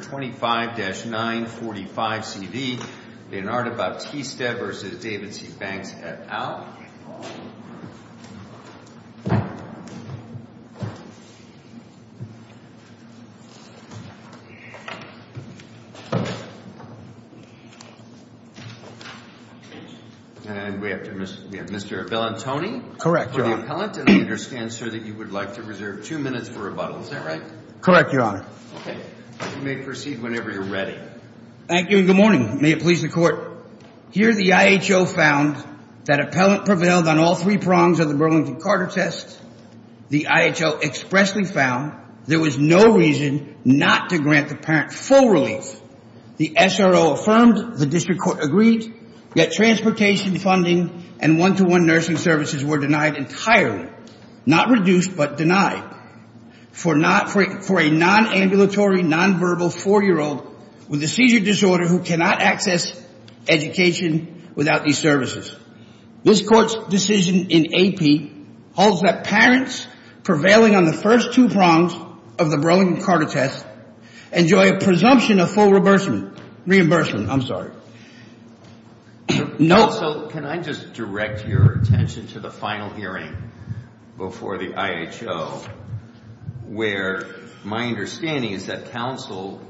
25-945CB, Leonardo Bautista v. David C. Banks, et al. And we have Mr. Vellantoni. Correct, Your Honor. For the appellant. And I understand, sir, that you would like to reserve two minutes for rebuttal, is that right? Correct, Your Honor. Okay. You may proceed whenever you're ready. Thank you and good morning. May it please the Court. Here the IHO found that appellant prevailed on all three prongs of the Burlington-Carter test. The IHO expressly found there was no reason not to grant the parent full relief. The SRO affirmed, the District Court agreed, yet transportation funding and one-to-one nursing services were denied entirely, not reduced but denied, for a non-ambulatory, non-verbal four-year-old with a seizure disorder who cannot access education without these This Court's decision in AP holds that parents prevailing on the first two prongs of the Burlington-Carter test enjoy a presumption of full reimbursement. I'm sorry. No, so can I just direct your attention to the final hearing before the IHO where my understanding is that counsel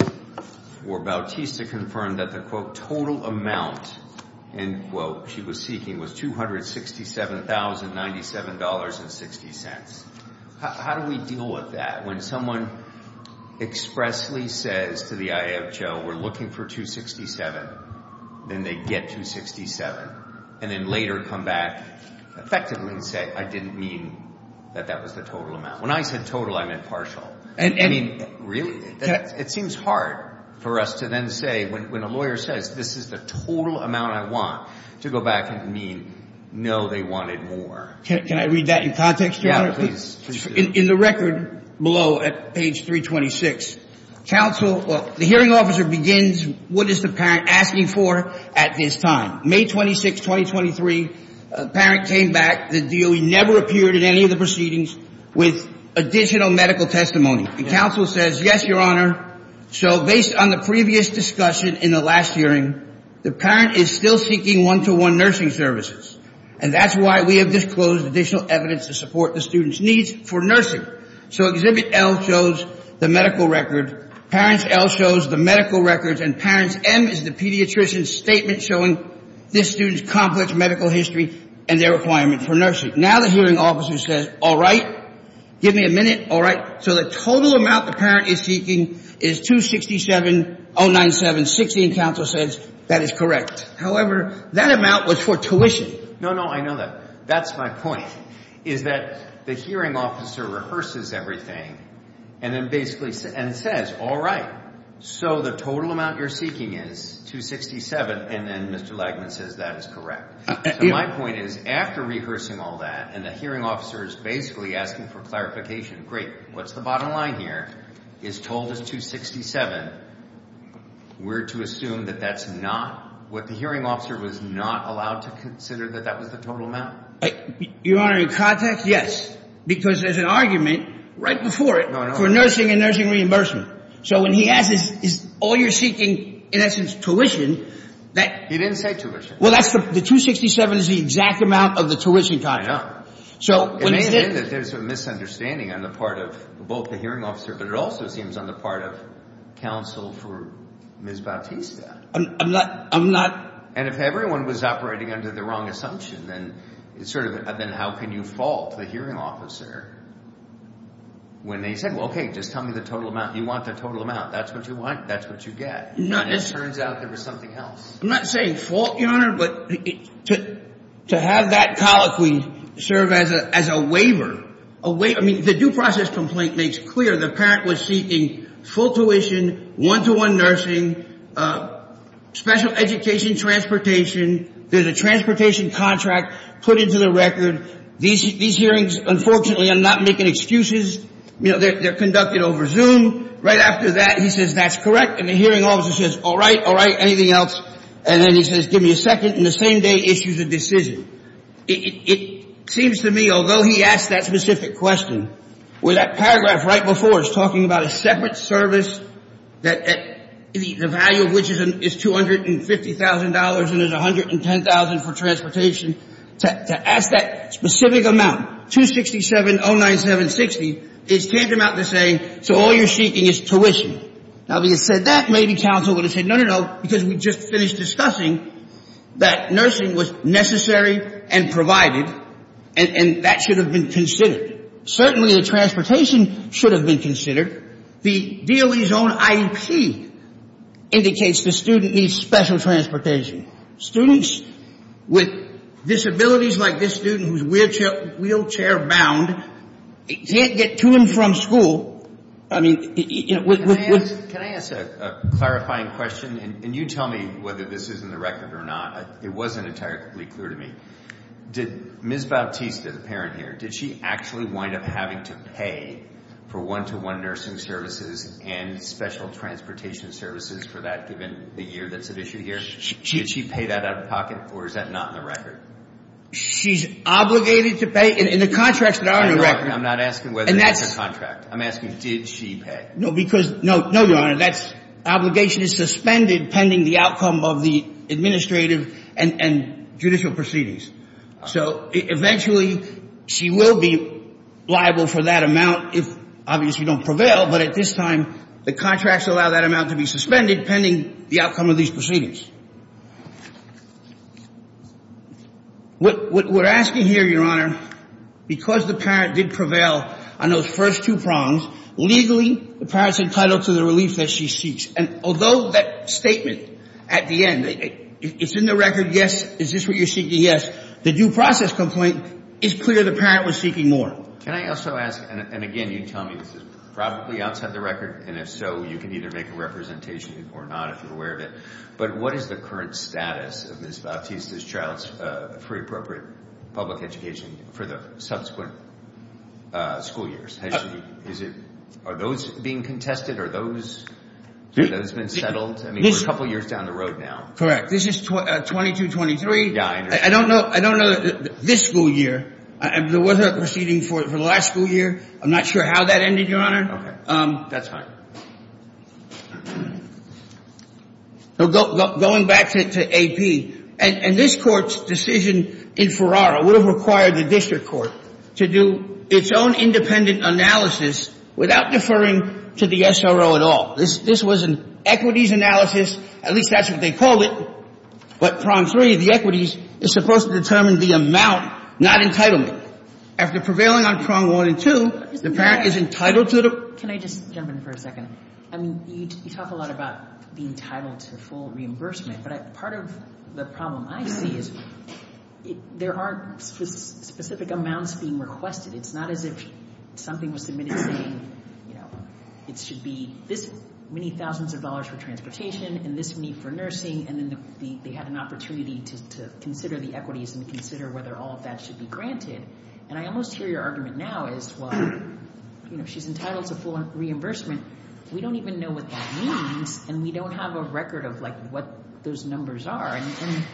for Bautista confirmed that the, quote, total amount, end quote, she was seeking was $267,097.60. How do we deal with that when someone expressly says to the IHO, we're looking for $267, then they get $267, and then later come back effectively and say, I didn't mean that that was the total amount. When I said total, I meant partial. I mean, really, it seems hard for us to then say, when a lawyer says, this is the total amount I want, to go back and mean, no, they wanted more. Can I read that in context, Your Honor? Yeah, please. In the record below at page 326, counsel, the hearing officer begins, what is the parent asking for at this time? May 26, 2023, parent came back, the DOE never appeared in any of the proceedings with additional medical testimony. The counsel says, yes, Your Honor. So based on the previous discussion in the last hearing, the parent is still seeking one-to-one nursing services, and that's why we have disclosed additional evidence to support the student's needs for nursing. So exhibit L shows the medical record. Parents L shows the medical records, and parents M is the pediatrician's statement showing this student's complex medical history and their requirement for nursing. Now the hearing officer says, all right, give me a minute, all right. So the total amount the parent is seeking is $267,097.60, and counsel says, that is correct. However, that amount was for tuition. No, no, I know that. That's my point, is that the hearing officer rehearses everything and then basically says, all right, so the total amount you're seeking is $267, and then Mr. Lagman says, that is correct. My point is, after rehearsing all that, and the hearing officer is basically asking for clarification, great, what's the bottom line here, is told as $267, we're to assume that that's not what the hearing officer was not allowed to consider, that that was the total amount. Your Honor, in context, yes, because there's an argument right before it for nursing and reimbursement. So when he asks, is all you're seeking, in essence, tuition, that... He didn't say tuition. Well, that's the $267 is the exact amount of the tuition cost. So when... It may have been that there's a misunderstanding on the part of both the hearing officer, but it also seems on the part of counsel for Ms. Bautista. I'm not, I'm not... And if everyone was operating under the wrong assumption, then it's sort of, then how can you fault the hearing officer when they said, well, okay, just tell me the total amount. You want the total amount. That's what you want. That's what you get. It turns out there was something else. I'm not saying fault, Your Honor, but to have that colloquy serve as a waiver, I mean, the due process complaint makes clear the parent was seeking full tuition, one-to-one nursing, special education transportation. There's a transportation contract put into the record. These hearings, unfortunately, I'm not making excuses. You know, they're conducted over Zoom. Right after that, he says, that's correct. And the hearing officer says, all right, all right. Anything else? And then he says, give me a second. And the same day issues a decision. It seems to me, although he asked that specific question, where that paragraph right before is talking about a separate service, the value of which is $250,000 and is $110,000 for transportation, to ask that specific amount, $267,097.60, is tantamount to saying, so all you're seeking is tuition. Now, if he had said that, maybe counsel would have said, no, no, no, because we just finished discussing that nursing was necessary and provided, and that should have been considered. Certainly, the transportation should have been considered. The DOE's own IEP indicates the student needs special transportation. Students with disabilities like this student, who's wheelchair-bound, can't get to and from school. I mean, you know, with... Can I ask a clarifying question? And you tell me whether this is in the record or not. It wasn't entirely clear to me. Did Ms. Bautista, the parent here, did she actually wind up having to pay for one-to-one nursing services and special transportation services for that, given the year that's at issue here? Did she pay that out of pocket, or is that not in the record? She's obligated to pay, in the contracts that are in the record. I'm not asking whether that's a contract. I'm asking, did she pay? No, because, no, no, Your Honor, that obligation is suspended pending the outcome of the administrative and judicial proceedings. So eventually, she will be liable for that amount if, obviously, we don't prevail. But at this time, the contracts allow that amount to be suspended pending the outcome of these proceedings. What we're asking here, Your Honor, because the parent did prevail on those first two prongs, legally, the parent's entitled to the relief that she seeks. And although that statement at the end, it's in the record, yes, is this what you're seeking, yes, the due process complaint, it's clear the parent was seeking more. Can I also ask, and again, you tell me, this is probably outside the record, and if so, you can either make a representation or not, if you're aware of it. But what is the current status of Ms. Bautista's child's free, appropriate public education for the subsequent school years? Is it, are those being contested? Are those, have those been settled? I mean, we're a couple of years down the road now. Correct. This is 22-23. Yeah, I understand. I don't know, I don't know that this school year, there was a proceeding for the last school year. I'm not sure how that ended, Your Honor. Okay, that's fine. So going back to AP, and this Court's decision in Ferrara would have required the district court to do its own independent analysis without deferring to the SRO at all. This was an equities analysis, at least that's what they called it, but prong three, the equities, is supposed to determine the amount, not entitlement. After prevailing on prong one and two, the parent is entitled to the prong three. Can I just jump in for a second? I mean, you talk a lot about being entitled to full reimbursement, but part of the problem I see is there aren't specific amounts being requested. It's not as if something was submitted saying, you know, it should be this many thousands of dollars for transportation and this many for nursing, and then they had an opportunity to consider the equities and consider whether all of that should be And I almost hear your argument now is, well, you know, she's entitled to full reimbursement. We don't even know what that means, and we don't have a record of, like, what those numbers are. And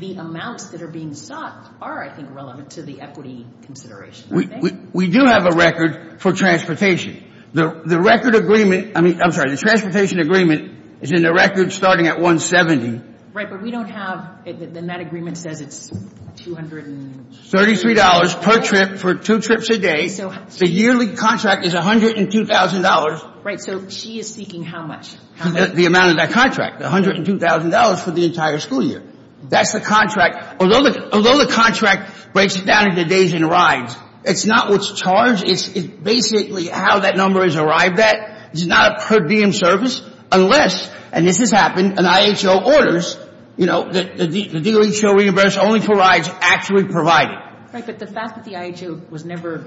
the amounts that are being sought are, I think, relevant to the equity consideration, I think. We do have a record for transportation. The record agreement, I mean, I'm sorry, the transportation agreement is in the record starting at $170. Right, but we don't have, and that agreement says it's $233. $233 per trip for two trips a day. The yearly contract is $102,000. Right, so she is seeking how much? The amount of that contract, $102,000 for the entire school year. That's the contract. Although the contract breaks it down into days and rides, it's not what's charged. It's basically how that number is arrived at. It's not a per diem service unless, and this has happened, an IHO orders, you know, the dealings shall reimburse only for rides actually provided. Right, but the fact that the IHO was never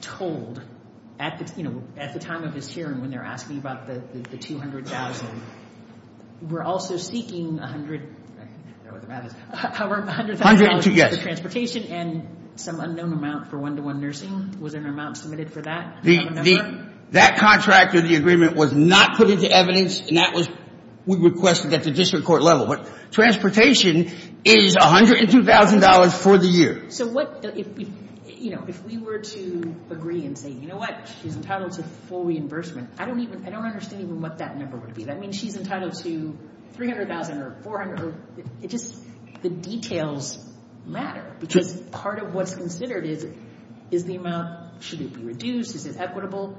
told at the time of this hearing when they're asking about the $200,000, we're also seeking $100,000 for transportation and some unknown amount for one-to-one nursing. Was an amount submitted for that? That contract or the agreement was not put into evidence and that was, we requested at the district court level. Transportation is $102,000 for the year. So what if, you know, if we were to agree and say, you know what, she's entitled to full reimbursement, I don't even, I don't understand even what that number would be. I mean, she's entitled to $300,000 or $400,000, it just, the details matter because part of what's considered is, is the amount, should it be reduced? Is it equitable?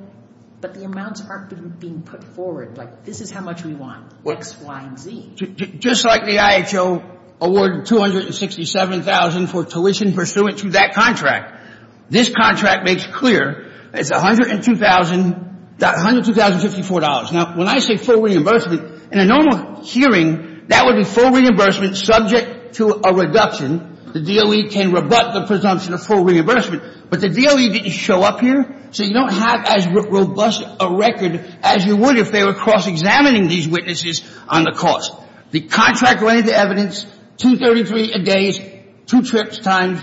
But the amounts aren't being put forward, like this is how much we want, X, Y, and Z. Just like the IHO awarded $267,000 for tuition pursuant to that contract. This contract makes clear it's $102,000, $102,054. Now, when I say full reimbursement, in a normal hearing, that would be full reimbursement subject to a reduction. The DOE can rebut the presumption of full reimbursement, but the DOE didn't show up here, so you don't have as robust a record as you would if they were cross-examining these witnesses on the cost. The contract went into evidence, $233,000 a day, two trips times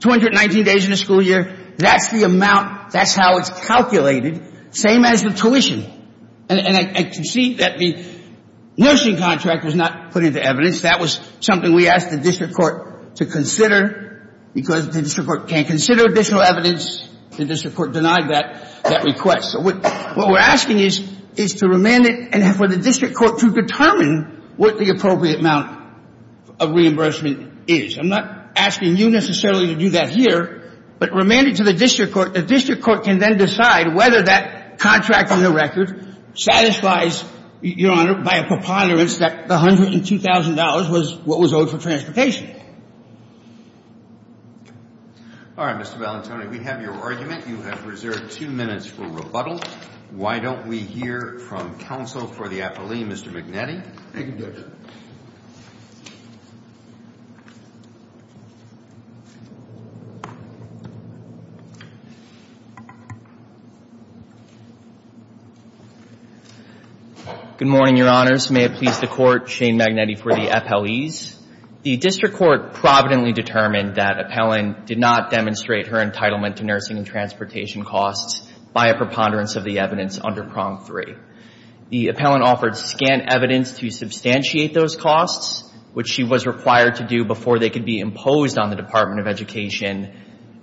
219 days in the school year, that's the amount, that's how it's calculated, same as the tuition. And I can see that the nursing contract was not put into evidence, that was something we asked the district court to consider because the district court can't consider additional evidence, the district court denied that request. What we're asking is to remand it and for the district court to determine what the appropriate amount of reimbursement is. I'm not asking you necessarily to do that here, but remand it to the district court, the district court can then decide whether that contract on the record satisfies, Your Honor, by a preponderance that the $102,000 was what was owed for transportation. All right, Mr. Valentoni, we have your argument. You have reserved two minutes for rebuttal. Why don't we hear from counsel for the FLE, Mr. Magnetti. Thank you, Judge. Good morning, Your Honors. May it please the Court, Shane Magnetti for the FLEs. The district court providently determined that Appellant did not demonstrate her entitlement to nursing and transportation costs by a preponderance of the evidence under Prong 3. The Appellant offered scant evidence to substantiate those costs, which she was required to do before they could be imposed on the Department of Education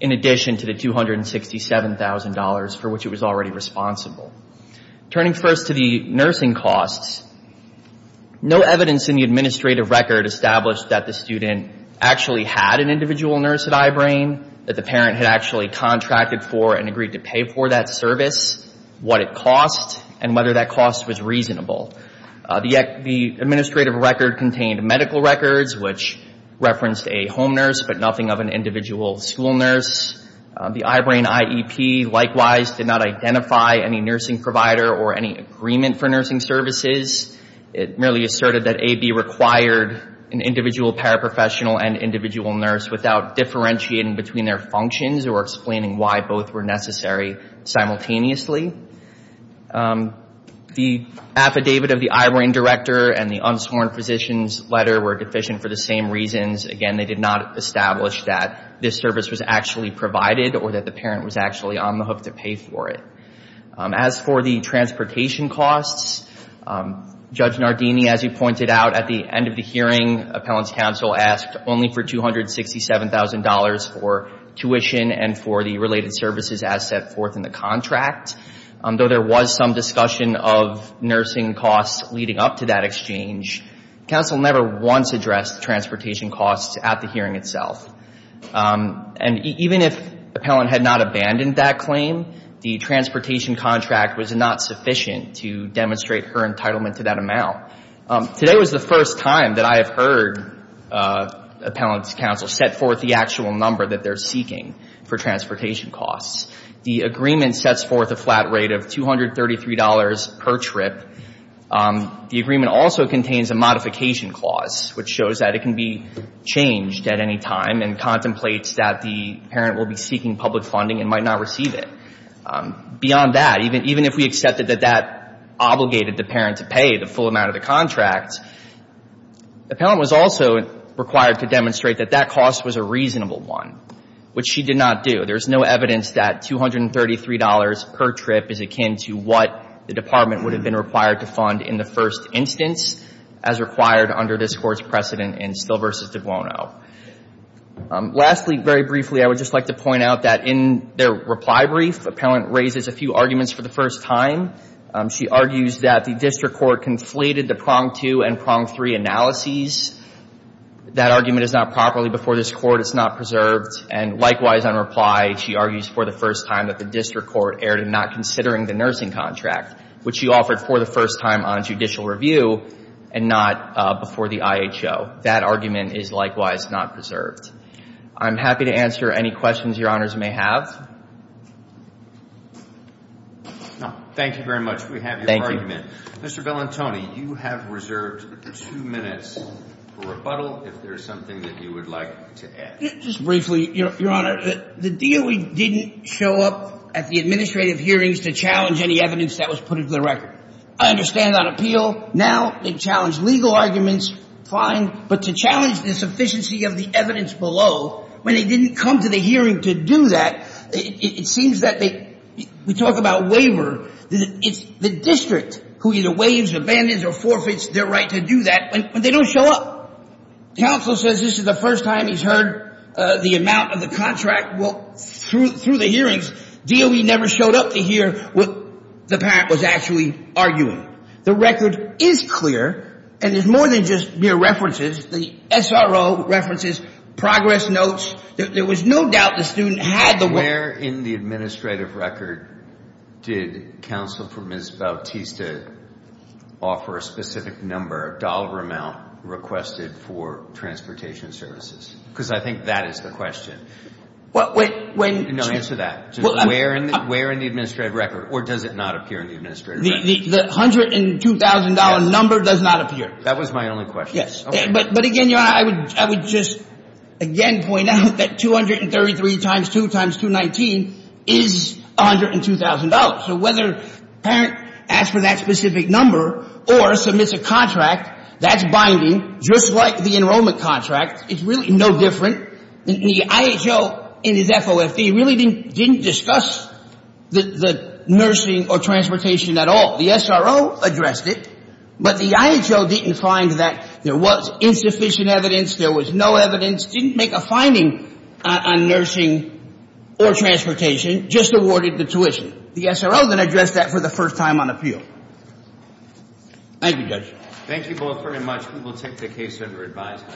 in addition to the $267,000 for which it was already responsible. Turning first to the nursing costs, no evidence in the administrative record established that the student actually had an individual nurse at I-BRAIN, that the parent had actually contracted for and agreed to pay for that service, what it cost, and whether that cost was reasonable. The administrative record contained medical records, which referenced a home nurse, but nothing of an individual school nurse. The I-BRAIN IEP likewise did not identify any nursing provider or any agreement for nursing services. It merely asserted that A-B required an individual paraprofessional and individual nurse without differentiating between their functions or explaining why both were necessary simultaneously. The affidavit of the I-BRAIN director and the unsworn physician's letter were deficient for the same reasons. Again, they did not establish that this service was actually provided or that the parent was actually on the hook to pay for it. As for the transportation costs, Judge Nardini, as you pointed out, at the end of the hearing, Appellant's counsel asked only for $267,000 for tuition and for the related services as set forth in the contract. Though there was some discussion of nursing costs leading up to that exchange, counsel never once addressed transportation costs at the hearing itself. And even if Appellant had not abandoned that claim, the transportation contract was not sufficient to demonstrate her entitlement to that amount. Today was the first time that I have heard Appellant's counsel set forth the actual number that they're seeking for transportation costs. The agreement sets forth a flat rate of $233 per trip. The agreement also contains a modification clause, which shows that it can be changed at any time and contemplates that the parent will be seeking public funding and might not receive it. Beyond that, even if we accepted that that obligated the parent to pay the full amount of the contract, Appellant was also required to demonstrate that that cost was a reasonable one, which she did not do. There's no evidence that $233 per trip is akin to what the Department would have been required to fund in the first instance as required under this Court's precedent in Steele v. DiBuono. Lastly, very briefly, I would just like to point out that in their reply brief, Appellant raises a few arguments for the first time. She argues that the District Court conflated the Prong 2 and Prong 3 analyses. That argument is not properly before this Court. It's not preserved. And likewise, on reply, she argues for the first time that the District Court erred in not considering the nursing contract, which she offered for the first time on judicial review and not before the IHO. That argument is likewise not preserved. I'm happy to answer any questions Your Honors may have. Thank you very much. We have your argument. Mr. Bellantoni, you have reserved two minutes for rebuttal if there's something that you would like to add. Just briefly, Your Honor, the DOE didn't show up at the administrative hearings to challenge any evidence that was put into the record. I understand that appeal. Now they challenge legal arguments. Fine. But to challenge the sufficiency of the evidence below when they didn't come to the hearing to do that, it seems that they... We talk about waiver. It's the district who either waives, abandons, or forfeits their right to do that when they don't show up. Counsel says this is the first time he's heard the amount of the contract. Well, through the hearings, DOE never showed up to hear what the parent was actually arguing. The record is clear, and there's more than just mere references. The SRO references, progress notes. There was no doubt the student had the... Where in the administrative record did counsel for Ms. Bautista offer a specific number, dollar amount requested for transportation services? Because I think that is the question. Well, when... No, answer that. Where in the administrative record? Or does it not appear in the administrative record? The $102,000 number does not appear. That was my only question. Yes. But again, Your Honor, I would just again point out that 233 times 2 times 219 is $102,000. So whether the parent asked for that specific number or submits a contract, that's binding, just like the enrollment contract. It's really no different. The IHO in his FOFD really didn't discuss the nursing or transportation at all. The SRO addressed it, but the IHO didn't find that there was insufficient evidence, there was no evidence, didn't make a finding on nursing or transportation, just awarded the tuition. The SRO then addressed that for the first time on appeal. Thank you, Judge. Thank you both very much. We will take the case under advisement.